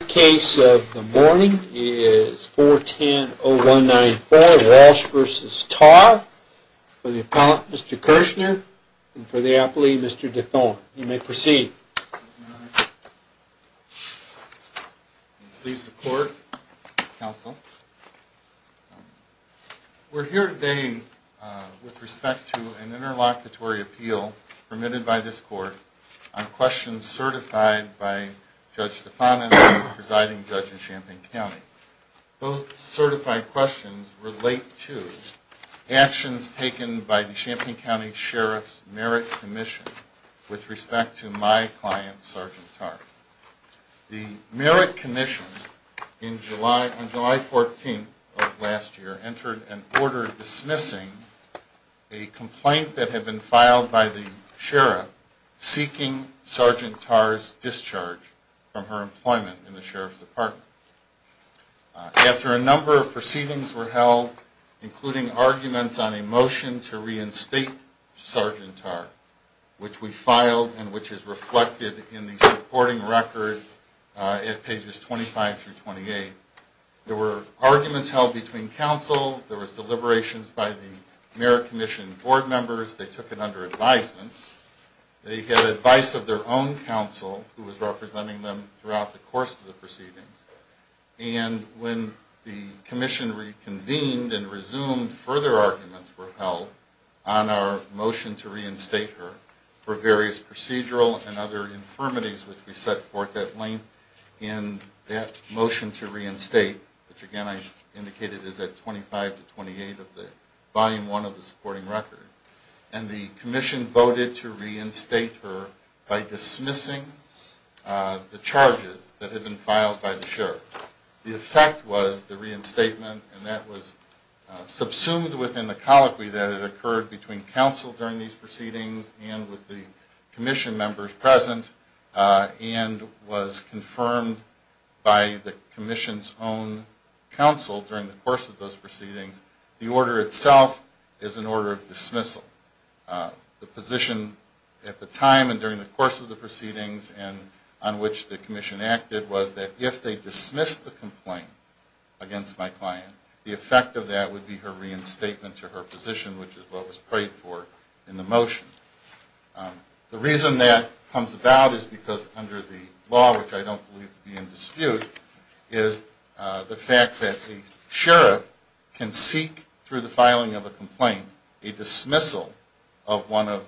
The case of the morning is 410-0194 Walsh v. Tarr for the appellant, Mr. Kirshner, and for the appellee, Mr. de Thon. You may proceed. Please support, counsel. We're here today with respect to an interlocutory appeal permitted by this court on questions certified by Judge de Thon and the presiding judge in Champaign County. Those certified questions relate to actions taken by the Champaign County Sheriff's Merit Commission with respect to my client, Sergeant Tarr. The Merit Commission, on July 14th of last year, entered an order dismissing a complaint that had been filed by the sheriff seeking Sergeant Tarr's discharge from her employment in the sheriff's department. After a number of proceedings were held, including arguments on a motion to reinstate Sergeant Tarr, which we filed and which is reflected in the supporting record at pages 25-28, there were arguments held between counsel, there was deliberations by the Merit Commission board members, they took it under advisement, they had advice of their own counsel, who was representing them throughout the course of the proceedings, and when the commission reconvened and resumed, further arguments were held on our motion to reinstate her for various procedural and other infirmities, which we set forth at length in that motion to reinstate, which again I indicated is at 25-28 of the volume 1 of the supporting record, and the commission voted to reinstate her by dismissing the charges that had been filed by the sheriff. The effect was the reinstatement and that was subsumed within the colloquy that had occurred between counsel during these proceedings and with the commission members present, and was confirmed by the commission's own counsel during the course of those proceedings, the order itself is an order of dismissal. The position at the time and during the course of the proceedings and on which the commission acted was that if they dismissed the complaint against my client, the effect of that would be her reinstatement to her position, which is what was prayed for in the motion. The reason that comes about is because under the law, which I don't believe to be in dispute, is the fact that the sheriff can seek, through the filing of a complaint, a dismissal of one of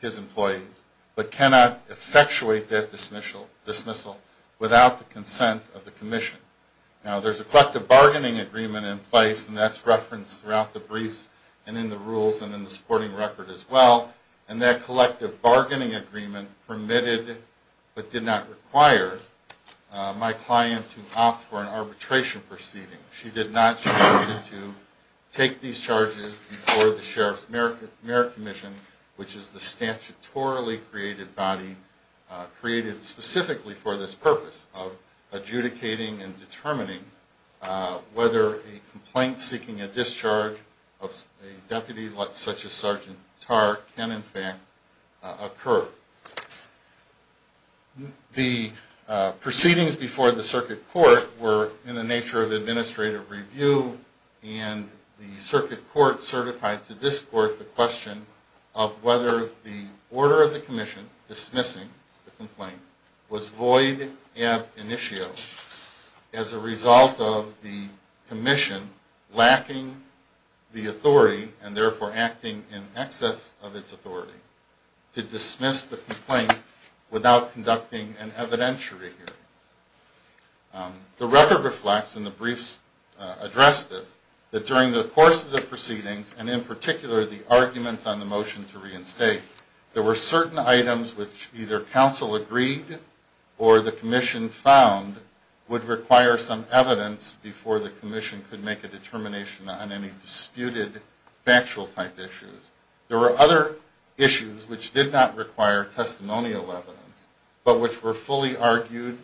his employees, but cannot effectuate that dismissal without the consent of the commission. Now there's a collective bargaining agreement in place, and that's referenced throughout the briefs and in the rules and in the supporting record as well, and that collective bargaining agreement permitted, but did not require, my client to opt for an arbitration proceeding. She did not choose to take these charges before the Sheriff's Merit Commission, which is the statutorily created body, created specifically for this purpose of adjudicating and determining whether a complaint seeking a discharge of a deputy such as Sergeant Tarr can in fact occur. The proceedings before the circuit court were in the nature of administrative review, and the circuit court certified to this court the question of whether the order of the commission dismissing the complaint was void ab initio as a result of the commission lacking the authority and therefore acting in excess of its authority to dismiss the complaint without conducting an evidentiary hearing. The record reflects, and the briefs address this, that during the course of the proceedings, and in particular the arguments on the motion to reinstate, there were certain items which either counsel agreed or the commission found would require some evidence before the commission could make a determination on any disputed factual type issues. There were other issues which did not require testimonial evidence, but which were fully argued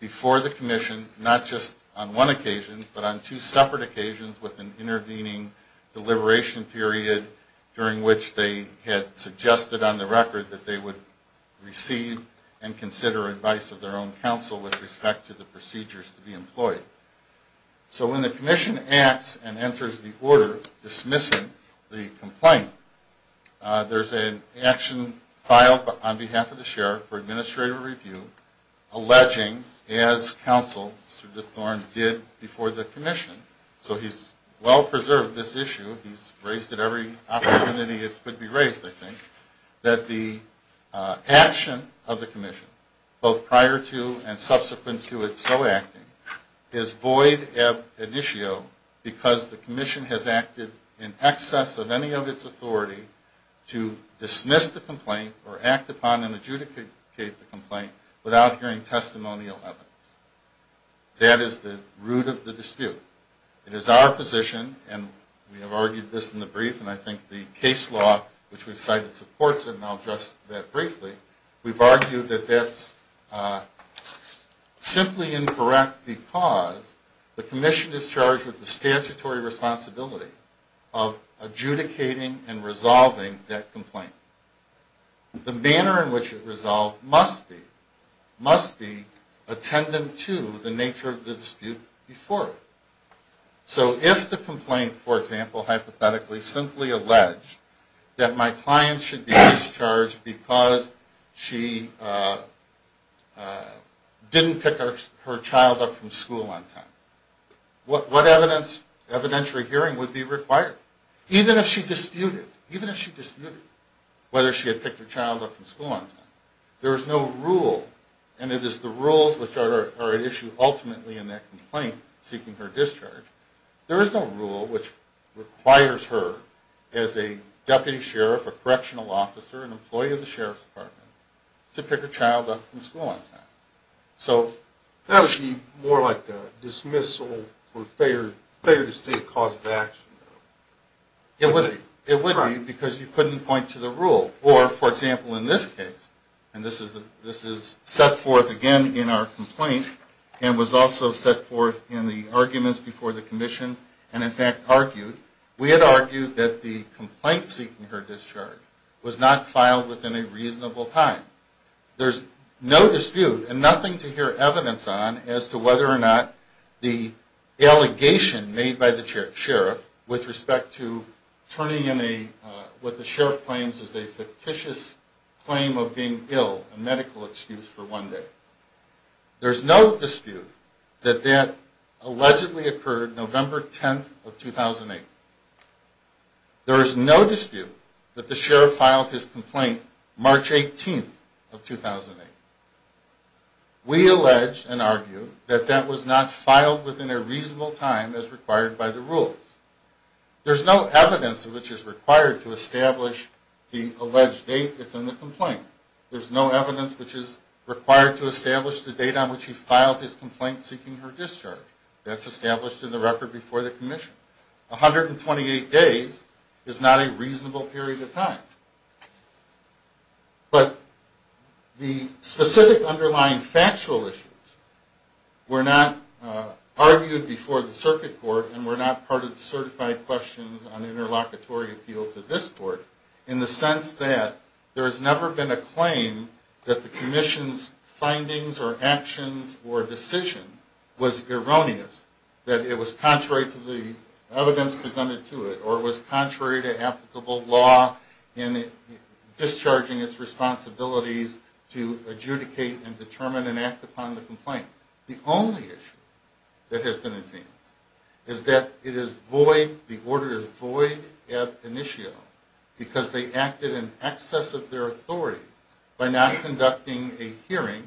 before the commission, not just on one occasion, but on two separate occasions with an intervening deliberation period during which they had suggested on the record that they would receive and consider advice of their own counsel with respect to the procedures to be employed. So when the commission acts and enters the order dismissing the complaint, there's an action filed on behalf of the sheriff for administrative review alleging, as counsel, Mr. DeThorne, did before the commission, so he's well preserved this issue. He's raised it every opportunity it could be raised, I think. That the action of the commission, both prior to and subsequent to its so acting, is void ab initio because the commission has acted in excess of any of its authority to dismiss the complaint or act upon and adjudicate the complaint without hearing testimonial evidence. That is the root of the dispute. It is our position, and we have argued this in the brief, and I think the case law which we've cited supports it, and I'll address that briefly. We've argued that that's simply incorrect because the commission is charged with the statutory responsibility of adjudicating and resolving that complaint. The manner in which it resolved must be attendant to the nature of the dispute before it. So if the complaint, for example, hypothetically simply alleged that my client should be discharged because she didn't pick her child up from school on time, what evidentiary hearing would be required? Even if she disputed, even if she disputed whether she had picked her child up from school on time. There is no rule, and it is the rules which are at issue ultimately in that complaint seeking her discharge. There is no rule which requires her as a deputy sheriff, a correctional officer, an employee of the sheriff's department, to pick her child up from school on time. That would be more like a dismissal for failure to state a cause of action. It would be because you couldn't point to the rule. Or, for example, in this case, and this is set forth again in our complaint and was also set forth in the arguments before the commission and in fact argued, we had argued that the complaint seeking her discharge was not filed within a reasonable time. There is no dispute and nothing to hear evidence on as to whether or not the allegation made by the sheriff with respect to turning in what the sheriff claims is a fictitious claim of being ill, a medical excuse for one day. There is no dispute that that allegedly occurred November 10th of 2008. There is no dispute that the sheriff filed his complaint March 18th of 2008. We allege and argue that that was not filed within a reasonable time as required by the rules. There's no evidence which is required to establish the alleged date that's in the complaint. There's no evidence which is required to establish the date on which he filed his complaint seeking her discharge. That's established in the record before the commission. 128 days is not a reasonable period of time. But the specific underlying factual issues were not argued before the circuit court and were not part of the certified questions on interlocutory appeal to this court in the sense that there has never been a claim that the commission's findings or actions or decision was erroneous, that it was contrary to the evidence presented to it, or it was contrary to applicable law in discharging its responsibilities to adjudicate and determine and act upon the complaint. The only issue that has been advanced is that it is void, the order is void ad initio because they acted in excess of their authority by not conducting a hearing,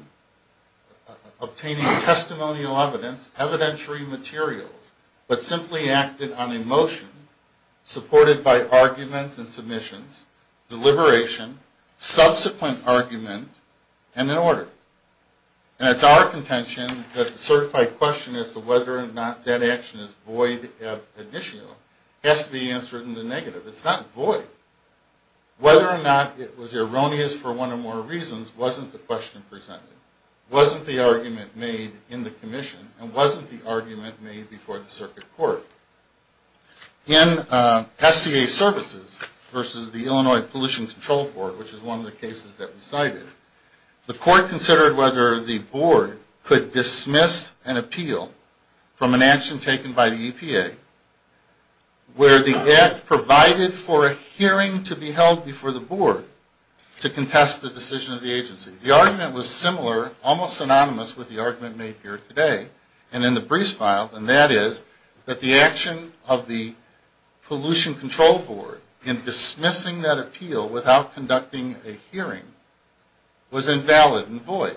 obtaining testimonial evidence, evidentiary materials, but simply acted on a motion supported by argument and submissions, deliberation, subsequent argument, and an order. And it's our contention that the certified question as to whether or not that action is void ad initio has to be answered in the negative. It's not void. Whether or not it was erroneous for one or more reasons wasn't the question presented, wasn't the argument made in the commission, and wasn't the argument made before the circuit court. In SCA Services versus the Illinois Pollution Control Court, which is one of the cases that we cited, the court considered whether the board could dismiss an appeal from an action taken by the EPA where the act provided for a hearing to be held before the board to contest the decision of the agency. The argument was similar, almost synonymous with the argument made here today and in the briefs file, and that is that the action of the Pollution Control Board in dismissing that appeal without conducting a hearing was invalid and void.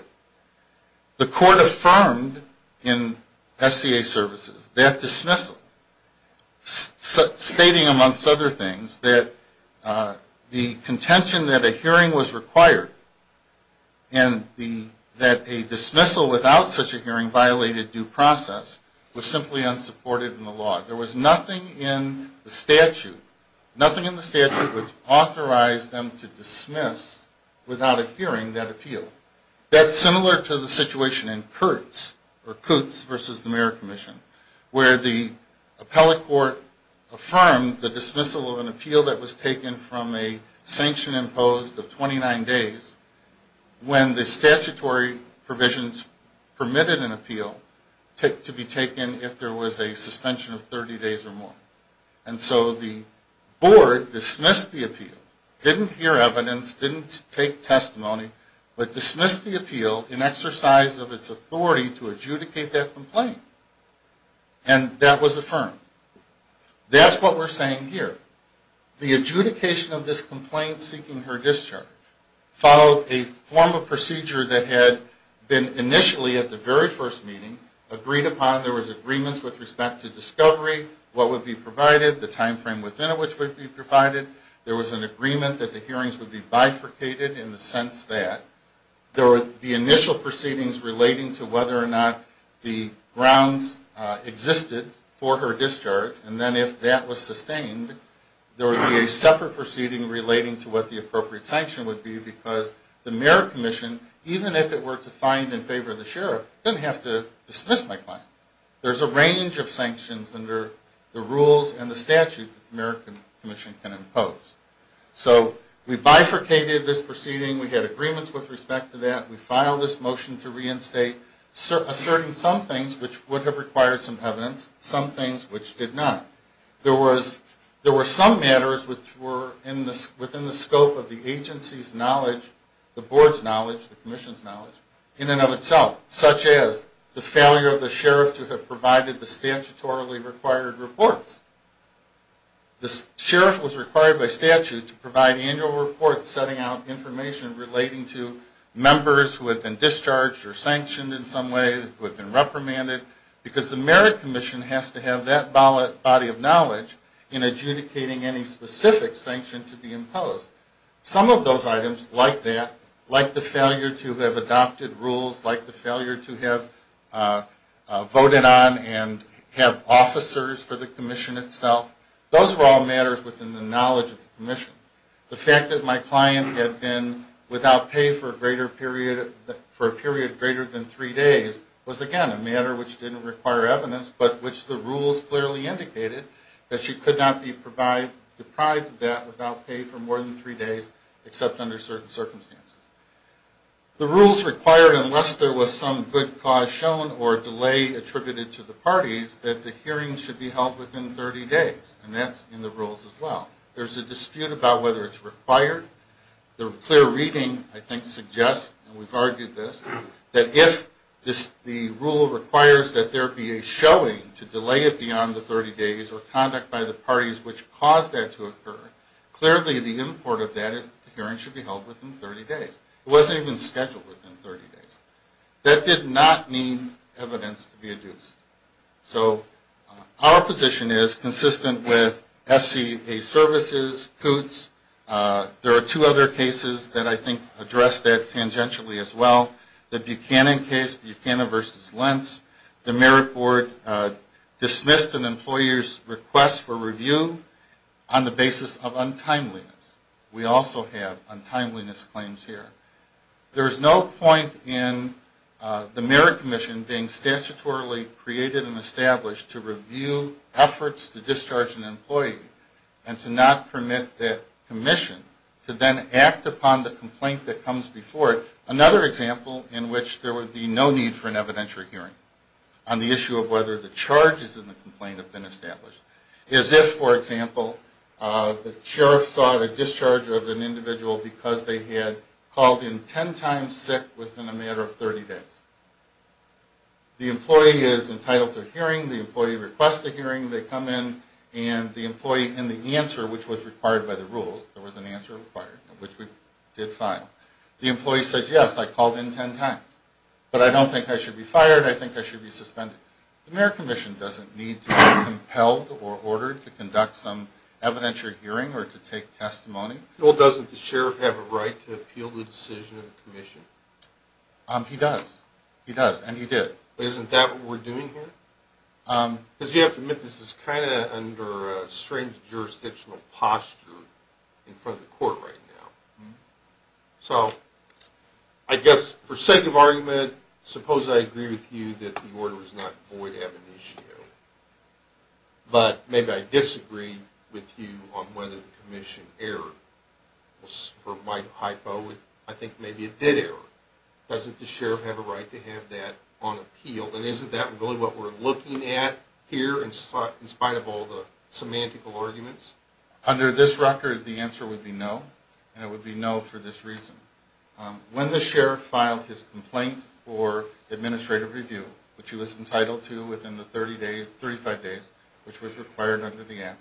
The court affirmed in SCA Services that dismissal, stating amongst other things that the contention that a hearing was required and that a dismissal without such a hearing violated due process was simply unsupported in the law. There was nothing in the statute, nothing in the statute, which authorized them to dismiss without a hearing that appeal. That's similar to the situation in Kurtz, or Kutz versus the Mayor Commission, where the appellate court affirmed the dismissal of an appeal that was taken from a sanction imposed of 29 days when the statutory provisions permitted an appeal to be taken if there was a suspension of 30 days or more. And so the board dismissed the appeal, didn't hear evidence, didn't take testimony, but dismissed the appeal in exercise of its authority to adjudicate that complaint. And that was affirmed. That's what we're saying here. The adjudication of this complaint seeking her discharge followed a form of procedure that had been initially, at the very first meeting, agreed upon. There was agreements with respect to discovery, what would be provided, the time frame within which would be provided. There was an agreement that the hearings would be bifurcated in the sense that there would be initial proceedings relating to whether or not the grounds existed for her discharge. And then if that was sustained, there would be a separate proceeding relating to what the appropriate sanction would be because the Mayor Commission, even if it were to find in favor of the Sheriff, didn't have to dismiss my client. There's a range of sanctions under the rules and the statute that the Mayor Commission can impose. So we bifurcated this proceeding. We had agreements with respect to that. We filed this motion to reinstate, asserting some things which would have required some evidence, some things which did not. There were some matters which were within the scope of the agency's knowledge, the board's knowledge, the commission's knowledge, in and of itself, such as the failure of the Sheriff to have provided the statutorily required reports. The Sheriff was required by statute to provide annual reports setting out information relating to members who had been discharged or sanctioned in some way, who had been reprimanded, because the Mayor Commission has to have that body of knowledge in adjudicating any specific sanction to be imposed. Some of those items, like that, like the failure to have adopted rules, like the failure to have voted on and have officers for the commission itself, those were all matters within the knowledge of the commission. The fact that my client had been without pay for a period greater than three days was, again, a matter which didn't require evidence, but which the rules clearly indicated that she could not be deprived of that without pay for more than three days, except under certain circumstances. The rules required, unless there was some good cause shown or delay attributed to the parties, that the hearings should be held within 30 days, and that's in the rules as well. There's a dispute about whether it's required. The clear reading, I think, suggests, and we've argued this, that if the rule requires that there be a showing to delay it beyond the 30 days or conduct by the parties which caused that to occur, clearly the import of that is that the hearings should be held within 30 days. It wasn't even scheduled within 30 days. That did not mean evidence to be adduced. So our position is consistent with SCA services, COOTS. There are two other cases that I think address that tangentially as well. The Buchanan case, Buchanan v. Lentz, the merit board dismissed an employer's request for review on the basis of untimeliness. We also have untimeliness claims here. There is no point in the merit commission being statutorily created and established to review efforts to discharge an employee and to not permit that commission to then act upon the complaint that comes before it. Another example in which there would be no need for an evidentiary hearing on the issue of whether the charges in the complaint have been established is if, for example, the sheriff sought a discharge of an individual because they had called in 10 times sick within a matter of 30 days. The employee is entitled to a hearing. The employee requests a hearing. They come in, and the employee in the answer, which was required by the rules, there was an answer required, which we did file. The employee says, yes, I called in 10 times, but I don't think I should be fired. I think I should be suspended. The merit commission doesn't need to be compelled or ordered to conduct some evidentiary hearing or to take testimony. Well, doesn't the sheriff have a right to appeal the decision of the commission? He does. He does, and he did. Isn't that what we're doing here? Because you have to admit this is kind of under a strange jurisdictional posture in front of the court right now. So, I guess, for sake of argument, suppose I agree with you that the order was not void ab initio. But maybe I disagree with you on whether the commission erred. For my hypo, I think maybe it did err. Doesn't the sheriff have a right to have that on appeal? And isn't that really what we're looking at here in spite of all the semantical arguments? Under this record, the answer would be no, and it would be no for this reason. When the sheriff filed his complaint for administrative review, which he was entitled to within the 35 days, which was required under the Act,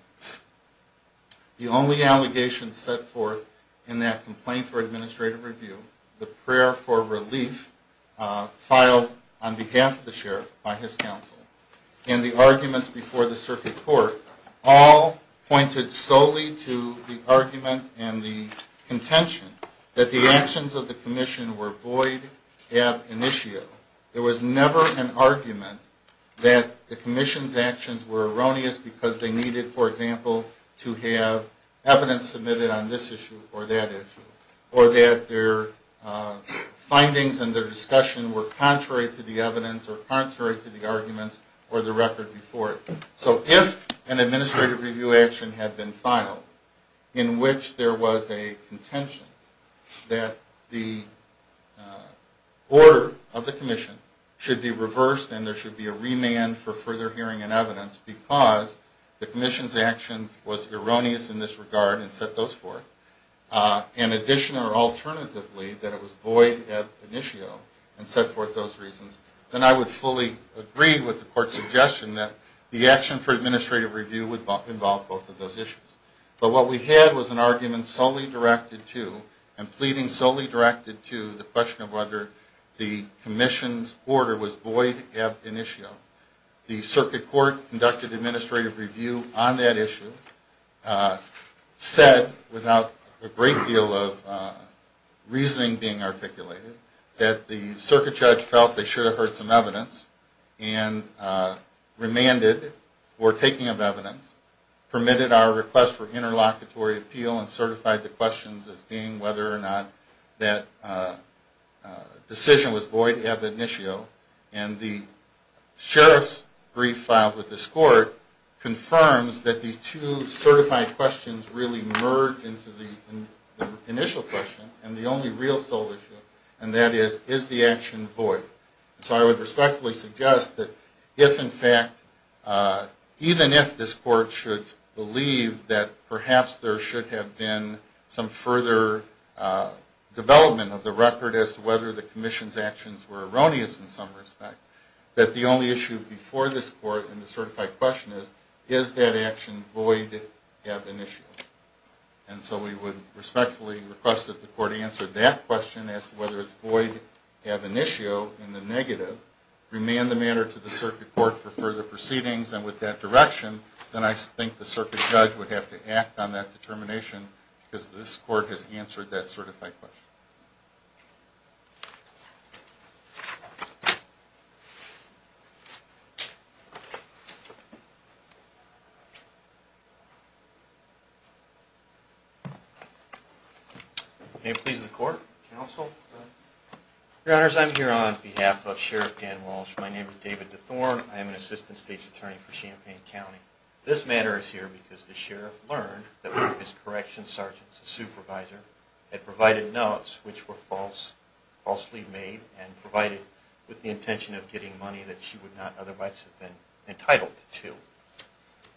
the only allegations set forth in that complaint for administrative review, the prayer for relief filed on behalf of the sheriff by his counsel, and the arguments before the circuit court all pointed solely to the argument and the contention that the actions of the commission were void ab initio. There was never an argument that the commission's actions were erroneous because they needed, for example, to have evidence submitted on this issue or that issue, or that their findings and their discussion were contrary to the evidence or contrary to the arguments or the record before it. So if an administrative review action had been filed in which there was a contention that the order of the commission should be reversed and there should be a remand for further hearing and evidence because the commission's actions was erroneous in this regard and set those forth, in addition or alternatively that it was void ab initio and set forth those reasons, then I would fully agree with the court's suggestion that the action for administrative review would involve both of those issues. But what we had was an argument solely directed to, and pleading solely directed to, the question of whether the commission's order was void ab initio. The circuit court conducted administrative review on that issue, said without a great deal of reasoning being articulated, that the circuit judge felt they should have heard some evidence and remanded for taking of evidence, permitted our request for interlocutory appeal and certified the questions as being whether or not that decision was void ab initio, and the sheriff's brief filed with this court confirms that these two certified questions really merge into the initial question and the only real sole issue, and that is, is the action void? So I would respectfully suggest that if in fact, even if this court should believe that perhaps there should have been some further development of the record as to whether the commission's actions were erroneous in some respect, that the only issue before this court in the certified question is, is that action void ab initio? And so we would respectfully request that the court answer that question as to whether it's void ab initio in the negative, remand the matter to the circuit court for further proceedings and with that direction, then I think the circuit judge would have to act on that determination because this court has answered that certified question. May it please the court. Counsel. Your Honors, I'm here on behalf of Sheriff Dan Walsh. My name is David DeThorne. I am an assistant state's attorney for Champaign County. This matter is here because the sheriff learned that one of his corrections sergeants, a supervisor, had provided notes which were falsely made and provided with the intention of getting money that she would not otherwise have been entitled to.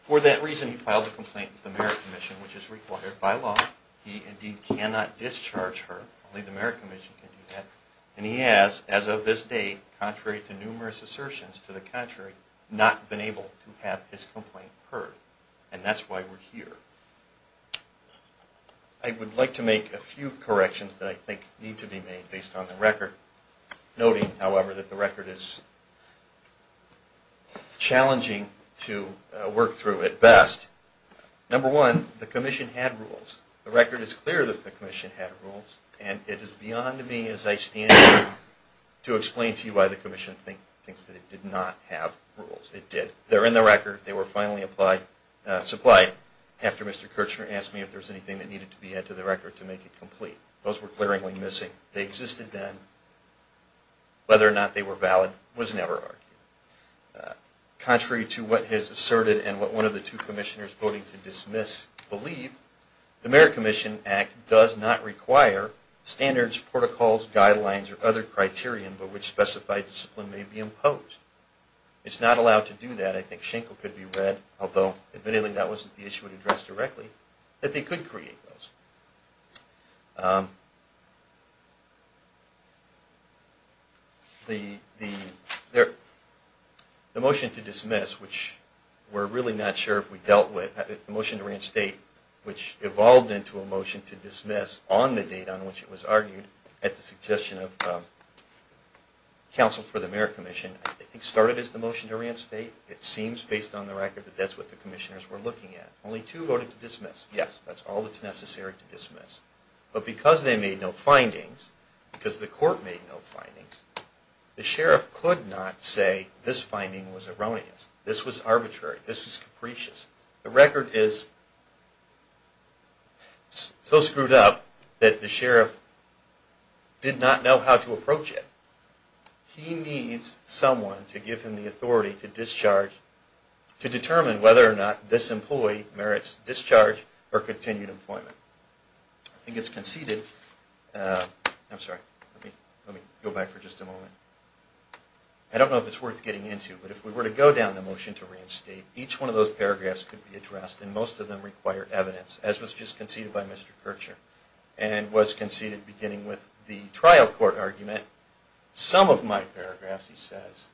For that reason, he filed a complaint with the Merit Commission, which is required by law. He indeed cannot discharge her. Only the Merit Commission can do that. And he has, as of this date, contrary to numerous assertions to the contrary, not been able to have his complaint heard. And that's why we're here. I would like to make a few corrections that I think need to be made based on the record, noting, however, that the record is challenging to work through at best. Number one, the commission had rules. The record is clear that the commission had rules. And it is beyond me as I stand here to explain to you why the commission thinks that it did not have rules. It did. They're in the record. They were finally supplied after Mr. Kirchner asked me if there was anything that needed to be added to the record to make it complete. Those were glaringly missing. They existed then. Whether or not they were valid was never argued. Contrary to what has asserted and what one of the two commissioners voting to dismiss believe, the Merit Commission Act does not require standards, protocols, guidelines, or other criterion by which specified discipline may be imposed. It's not allowed to do that. I think Schenkel could be read, although, admittedly, that wasn't the issue it addressed directly, that they could create those. The motion to dismiss, which we're really not sure if we dealt with, the motion to reinstate, which evolved into a motion to dismiss on the date on which it was argued, at the suggestion of counsel for the Merit Commission, I think started as the motion to reinstate. It seems, based on the record, that that's what the commissioners were looking at. Only two voted to dismiss. Yes, that's all that's necessary to dismiss. But because they made no findings, because the court made no findings, the sheriff could not say this finding was erroneous. This was arbitrary. This was capricious. The record is so screwed up that the sheriff did not know how to approach it. He needs someone to give him the authority to discharge, to determine whether or not this employee merits discharge or continued employment. I think it's conceded, I'm sorry, let me go back for just a moment. I don't know if it's worth getting into, but if we were to go down the motion to reinstate, each one of those paragraphs could be addressed, and most of them require evidence, as was just conceded by Mr. Kircher, and was conceded beginning with the trial court argument. Some of my paragraphs, he says,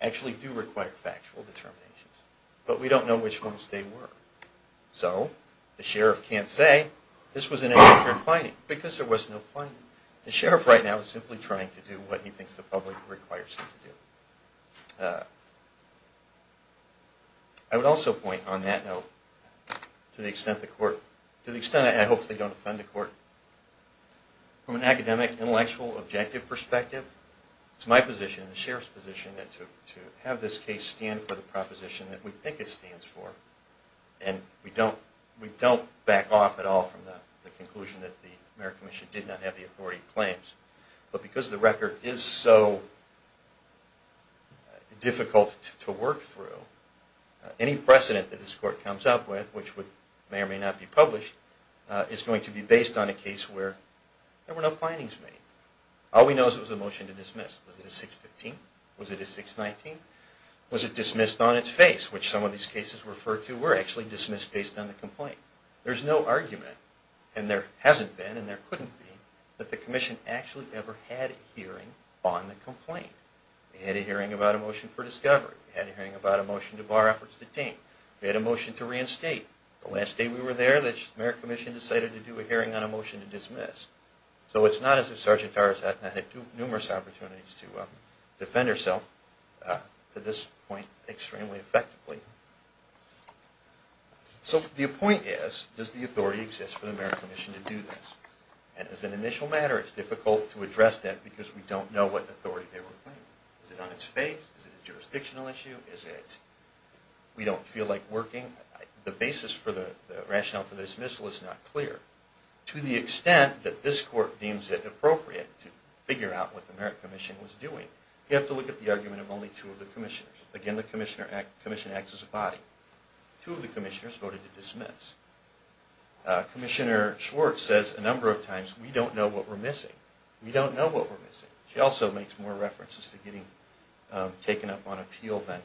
actually do require factual determinations, but we don't know which ones they were. So the sheriff can't say this was an erroneous finding, because there was no finding. The sheriff right now is simply trying to do what he thinks the public requires him to do. I would also point on that note, to the extent the court, to the extent I hope they don't offend the court, from an academic, intellectual, objective perspective, it's my position, the sheriff's position, to have this case stand for the proposition that we think it stands for, and we don't back off at all from the conclusion that the merit commission did not have the authority claims. But because the record is so difficult to work through, any precedent that this court comes up with, which may or may not be published, is going to be based on a case where there were no findings made. All we know is it was a motion to dismiss. Was it a 615? Was it a 619? Was it dismissed on its face, which some of these cases refer to were actually dismissed based on the complaint. There's no argument, and there hasn't been, and there couldn't be, that the commission actually ever had a hearing on the complaint. They had a hearing about a motion for discovery, they had a hearing about a motion to bar efforts to detain, they had a motion to reinstate. The last day we were there, the merit commission decided to do a hearing on a motion to dismiss. So it's not as if Sergeant Harris had numerous opportunities to defend herself, to this point, extremely effectively. So the point is, does the authority exist for the merit commission to do this? And as an initial matter, it's difficult to address that because we don't know what authority they were claiming. Is it on its face? Is it a jurisdictional issue? Is it we don't feel like working? The basis for the rationale for the dismissal is not clear. To the extent that this court deems it appropriate to figure out what the merit commission was doing, you have to look at the argument of only two of the commissioners. Again, the commission acts as a body. Two of the commissioners voted to dismiss. Commissioner Schwartz says a number of times, we don't know what we're missing. We don't know what we're missing. She also makes more references to getting taken up on appeal then.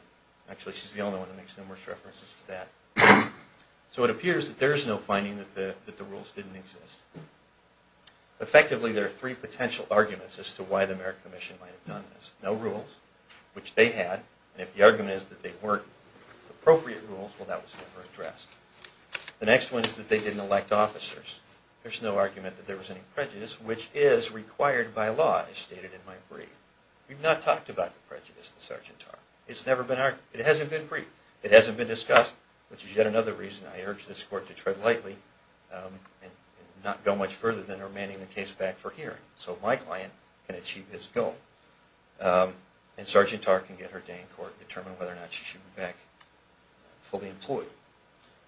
Actually, she's the only one that makes numerous references to that. So it appears that there is no finding that the rules didn't exist. Effectively, there are three potential arguments as to why the merit commission might have done this. No rules, which they had. And if the argument is that they weren't appropriate rules, well, that was never addressed. The next one is that they didn't elect officers. There's no argument that there was any prejudice, which is required by law, as stated in my brief. We've not talked about the prejudice in Sargentar. It's never been argued. It hasn't been briefed. It hasn't been discussed, which is yet another reason I urge this court to tread lightly and not go much further than remanding the case back for hearing so my client can achieve his goal. And Sargentar can get her day in court and determine whether or not she should be back fully employed.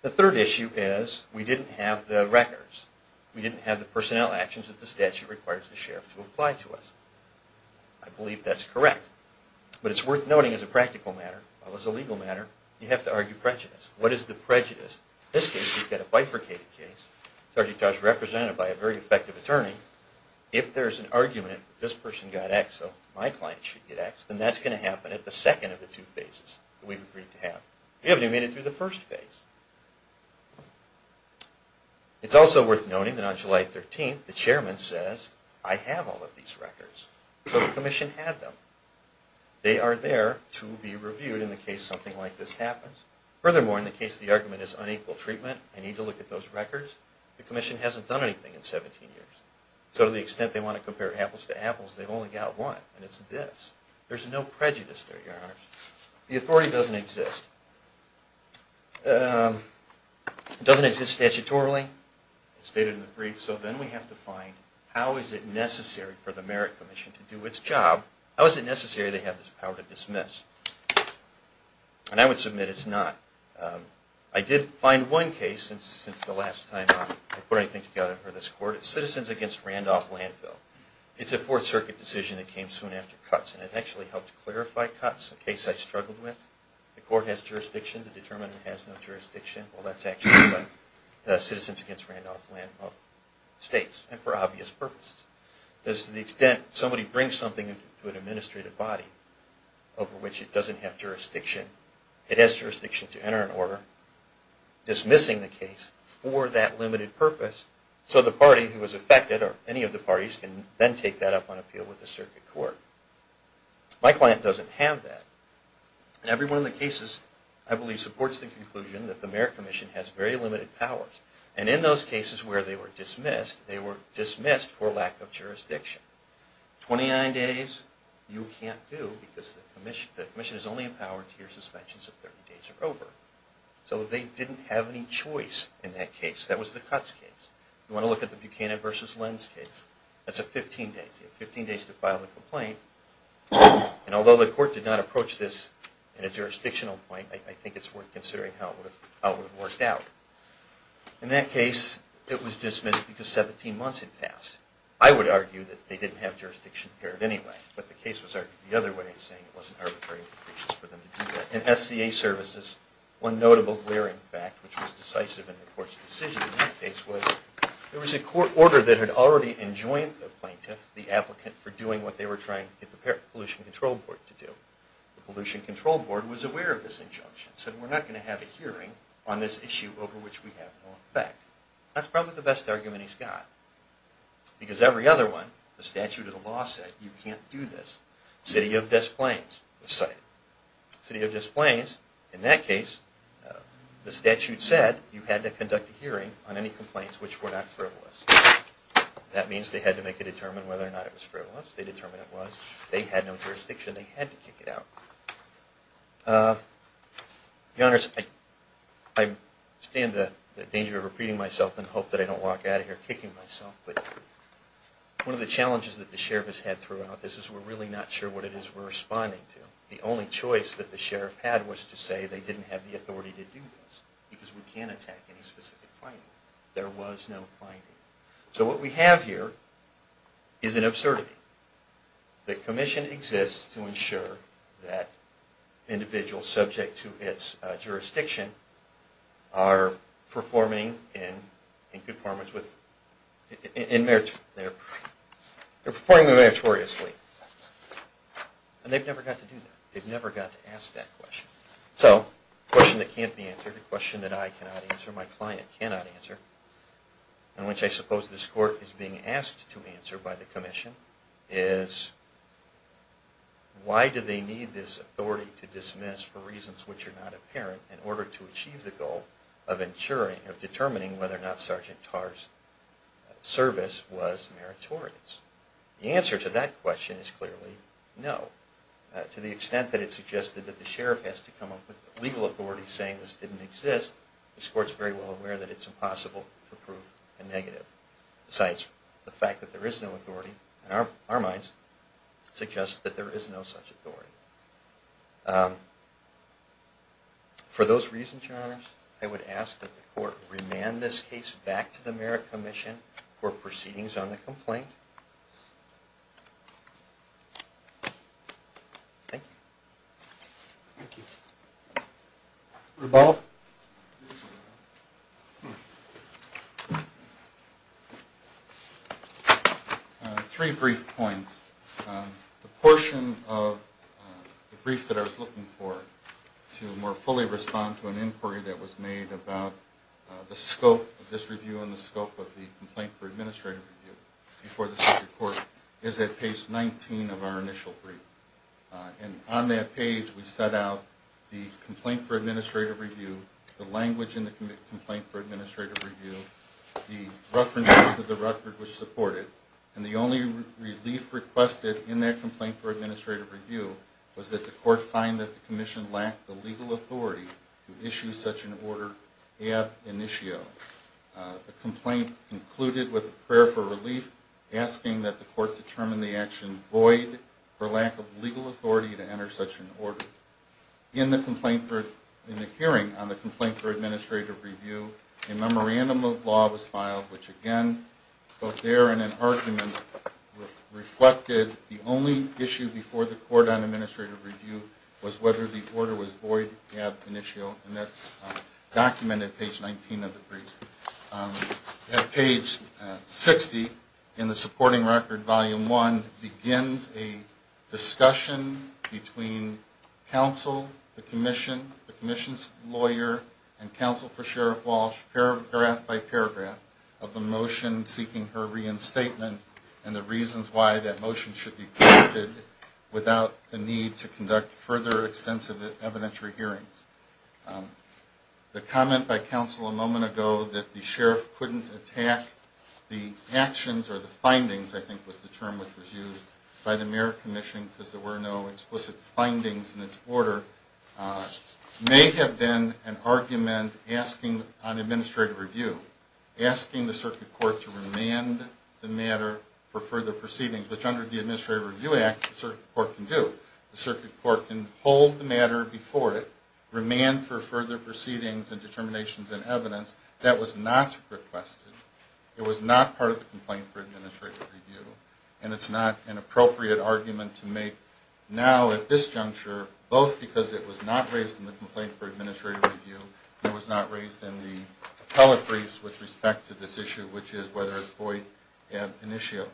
The third issue is we didn't have the records. We didn't have the personnel actions that the statute requires the sheriff to apply to us. I believe that's correct. But it's worth noting as a practical matter, as a legal matter, you have to argue prejudice. What is the prejudice? In this case, we've got a bifurcated case. Sargentar is represented by a very effective attorney. If there's an argument that this person got X so my client should get X, then that's going to happen at the second of the two phases that we've agreed to have. We haven't even made it through the first phase. It's also worth noting that on July 13th, the chairman says, I have all of these records. So the commission had them. They are there to be reviewed in the case something like this happens. Furthermore, in the case the argument is unequal treatment, I need to look at those records, the commission hasn't done anything in 17 years. So to the extent they want to compare apples to apples, they've only got one, and it's this. There's no prejudice there, Your Honor. The authority doesn't exist. It doesn't exist statutorily. It's stated in the brief. So then we have to find how is it necessary for the merit commission to do its job. How is it necessary they have this power to dismiss? And I would submit it's not. I did find one case since the last time I put anything together for this court. It's Citizens Against Randolph Landfill. It's a Fourth Circuit decision that came soon after cuts, and it actually helped clarify cuts, a case I struggled with. The court has jurisdiction to determine it has no jurisdiction. Well, that's actually what Citizens Against Randolph Landfill states, and for obvious purposes. To the extent somebody brings something to an administrative body over which it doesn't have jurisdiction, it has jurisdiction to enter an order dismissing the case for that limited purpose so the party who was affected, or any of the parties, can then take that up on appeal with the circuit court. My client doesn't have that. And every one of the cases, I believe, supports the conclusion that the merit commission has very limited powers. And in those cases where they were dismissed, they were dismissed for lack of jurisdiction. 29 days, you can't do because the commission is only empowered to hear suspensions if 30 days are over. So they didn't have any choice in that case. That was the cuts case. You want to look at the Buchanan v. Lenz case. That's a 15 days. You have 15 days to file the complaint. And although the court did not approach this in a jurisdictional point, I think it's worth considering how it would have worked out. In that case, it was dismissed because 17 months had passed. I would argue that they didn't have jurisdiction there anyway. But the case was argued the other way, saying it wasn't arbitrary for them to do that. In SCA services, one notable glaring fact, which was decisive in the court's decision in that case, was there was a court order that had already enjoined the plaintiff, the applicant, for doing what they were trying to get the Pollution Control Board to do. The Pollution Control Board was aware of this injunction, said we're not going to have a hearing on this issue over which we have no effect. That's probably the best argument he's got. Because every other one, the statute of the law said you can't do this. City of Des Plaines was cited. City of Des Plaines, in that case, the statute said you had to conduct a hearing on any complaints which were not frivolous. That means they had to make a determination whether or not it was frivolous. They determined it was. They had no jurisdiction. They had to kick it out. To be honest, I stand the danger of repeating myself and hope that I don't walk out of here kicking myself. One of the challenges that the sheriff has had throughout this is we're really not sure what it is we're responding to. The only choice that the sheriff had was to say they didn't have the authority to do this because we can't attack any specific finding. There was no finding. So what we have here is an absurdity. The commission exists to ensure that individuals subject to its jurisdiction are performing in conformance with... They're performing meritoriously. And they've never got to do that. They've never got to ask that question. So the question that can't be answered, the question that I cannot answer, my client cannot answer, and which I suppose this court is being asked to answer by the commission is why do they need this authority to dismiss for reasons which are not apparent in order to achieve the goal of determining whether or not Sergeant Tarr's service was meritorious? The answer to that question is clearly no. To the extent that it suggested that the sheriff has to come up with legal authority saying this didn't exist, this court is very well aware that it's impossible to prove a negative. Besides the fact that there is no authority, in our minds, it suggests that there is no such authority. For those reasons, Your Honors, I would ask that the court remand this case back to the Merit Commission for proceedings on the complaint. Thank you. Thank you. Reball? Three brief points. The portion of the briefs that I was looking for to more fully respond to an inquiry that was made about the scope of this review and the scope of the Complaint for Administrative Review before this Court is at page 19 of our initial brief. On that page, we set out the Complaint for Administrative Review, the language in the Complaint for Administrative Review, the references to the record which support it, and the only relief requested in that Complaint for Administrative Review was that the Court find that the Commission lacked the legal authority to issue such an order ad initio. The complaint concluded with a prayer for relief, asking that the Court determine the action void for lack of legal authority to enter such an order. In the hearing on the Complaint for Administrative Review, a memorandum of law was filed, which again, both there and in argument, reflected the only issue before the Court on Administrative Review was whether the order was void ad initio, and that's documented at page 19 of the brief. At page 60 in the Supporting Record, Volume 1, begins a discussion between Counsel, the Commission, the Commission's lawyer, and Counsel for Sheriff Walsh, paragraph by paragraph, of the motion seeking her reinstatement and the reasons why that motion should be conducted without the need to conduct further extensive evidentiary hearings. The comment by Counsel a moment ago that the Sheriff couldn't attack the actions or the findings, I think was the term which was used, by the Mayor Commission because there were no explicit findings in its order may have been an argument asking on Administrative Review, asking the Circuit Court to remand the matter for further proceedings, which under the Administrative Review Act, the Circuit Court can do. Remand for further proceedings and determinations and evidence, that was not requested. It was not part of the complaint for Administrative Review, and it's not an appropriate argument to make now at this juncture, both because it was not raised in the complaint for Administrative Review, and it was not raised in the appellate briefs with respect to this issue, which is whether it's void ad initio.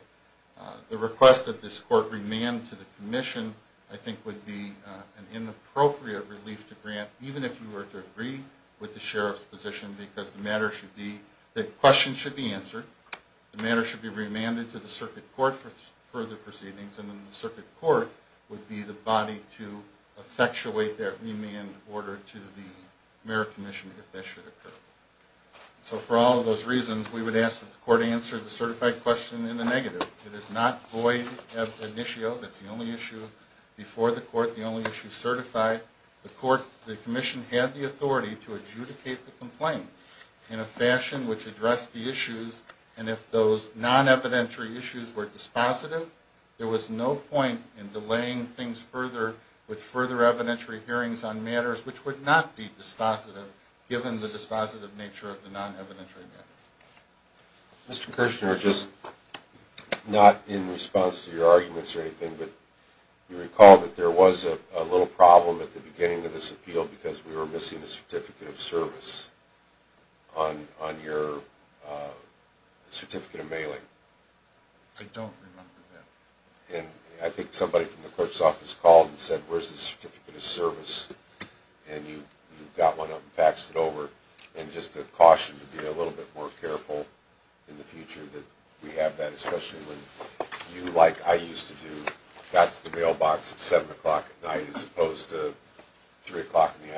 The request that this Court remand to the Commission, I think, would be an inappropriate relief to grant, even if you were to agree with the Sheriff's position, because the matter should be that questions should be answered, the matter should be remanded to the Circuit Court for further proceedings, and then the Circuit Court would be the body to effectuate that remand order to the Mayor Commission if that should occur. So for all of those reasons, we would ask that the Court answer the certified question in the negative. It is not void ad initio. That's the only issue before the Court, the only issue certified. The Commission had the authority to adjudicate the complaint in a fashion which addressed the issues, and if those non-evidentiary issues were dispositive, there was no point in delaying things further with further evidentiary hearings on matters which would not be dispositive, given the dispositive nature of the non-evidentiary matter. Mr. Kirshner, just not in response to your arguments or anything, but you recall that there was a little problem at the beginning of this appeal because we were missing a Certificate of Service on your Certificate of Mailing. I don't remember that. And I think somebody from the Court's Office called and said, where's the Certificate of Service? And you got one up and faxed it over, and just a caution to be a little bit more careful in the future that we have that, especially when you, like I used to do, got to the mailbox at 7 o'clock at night as opposed to 3 o'clock in the afternoon. Thank you.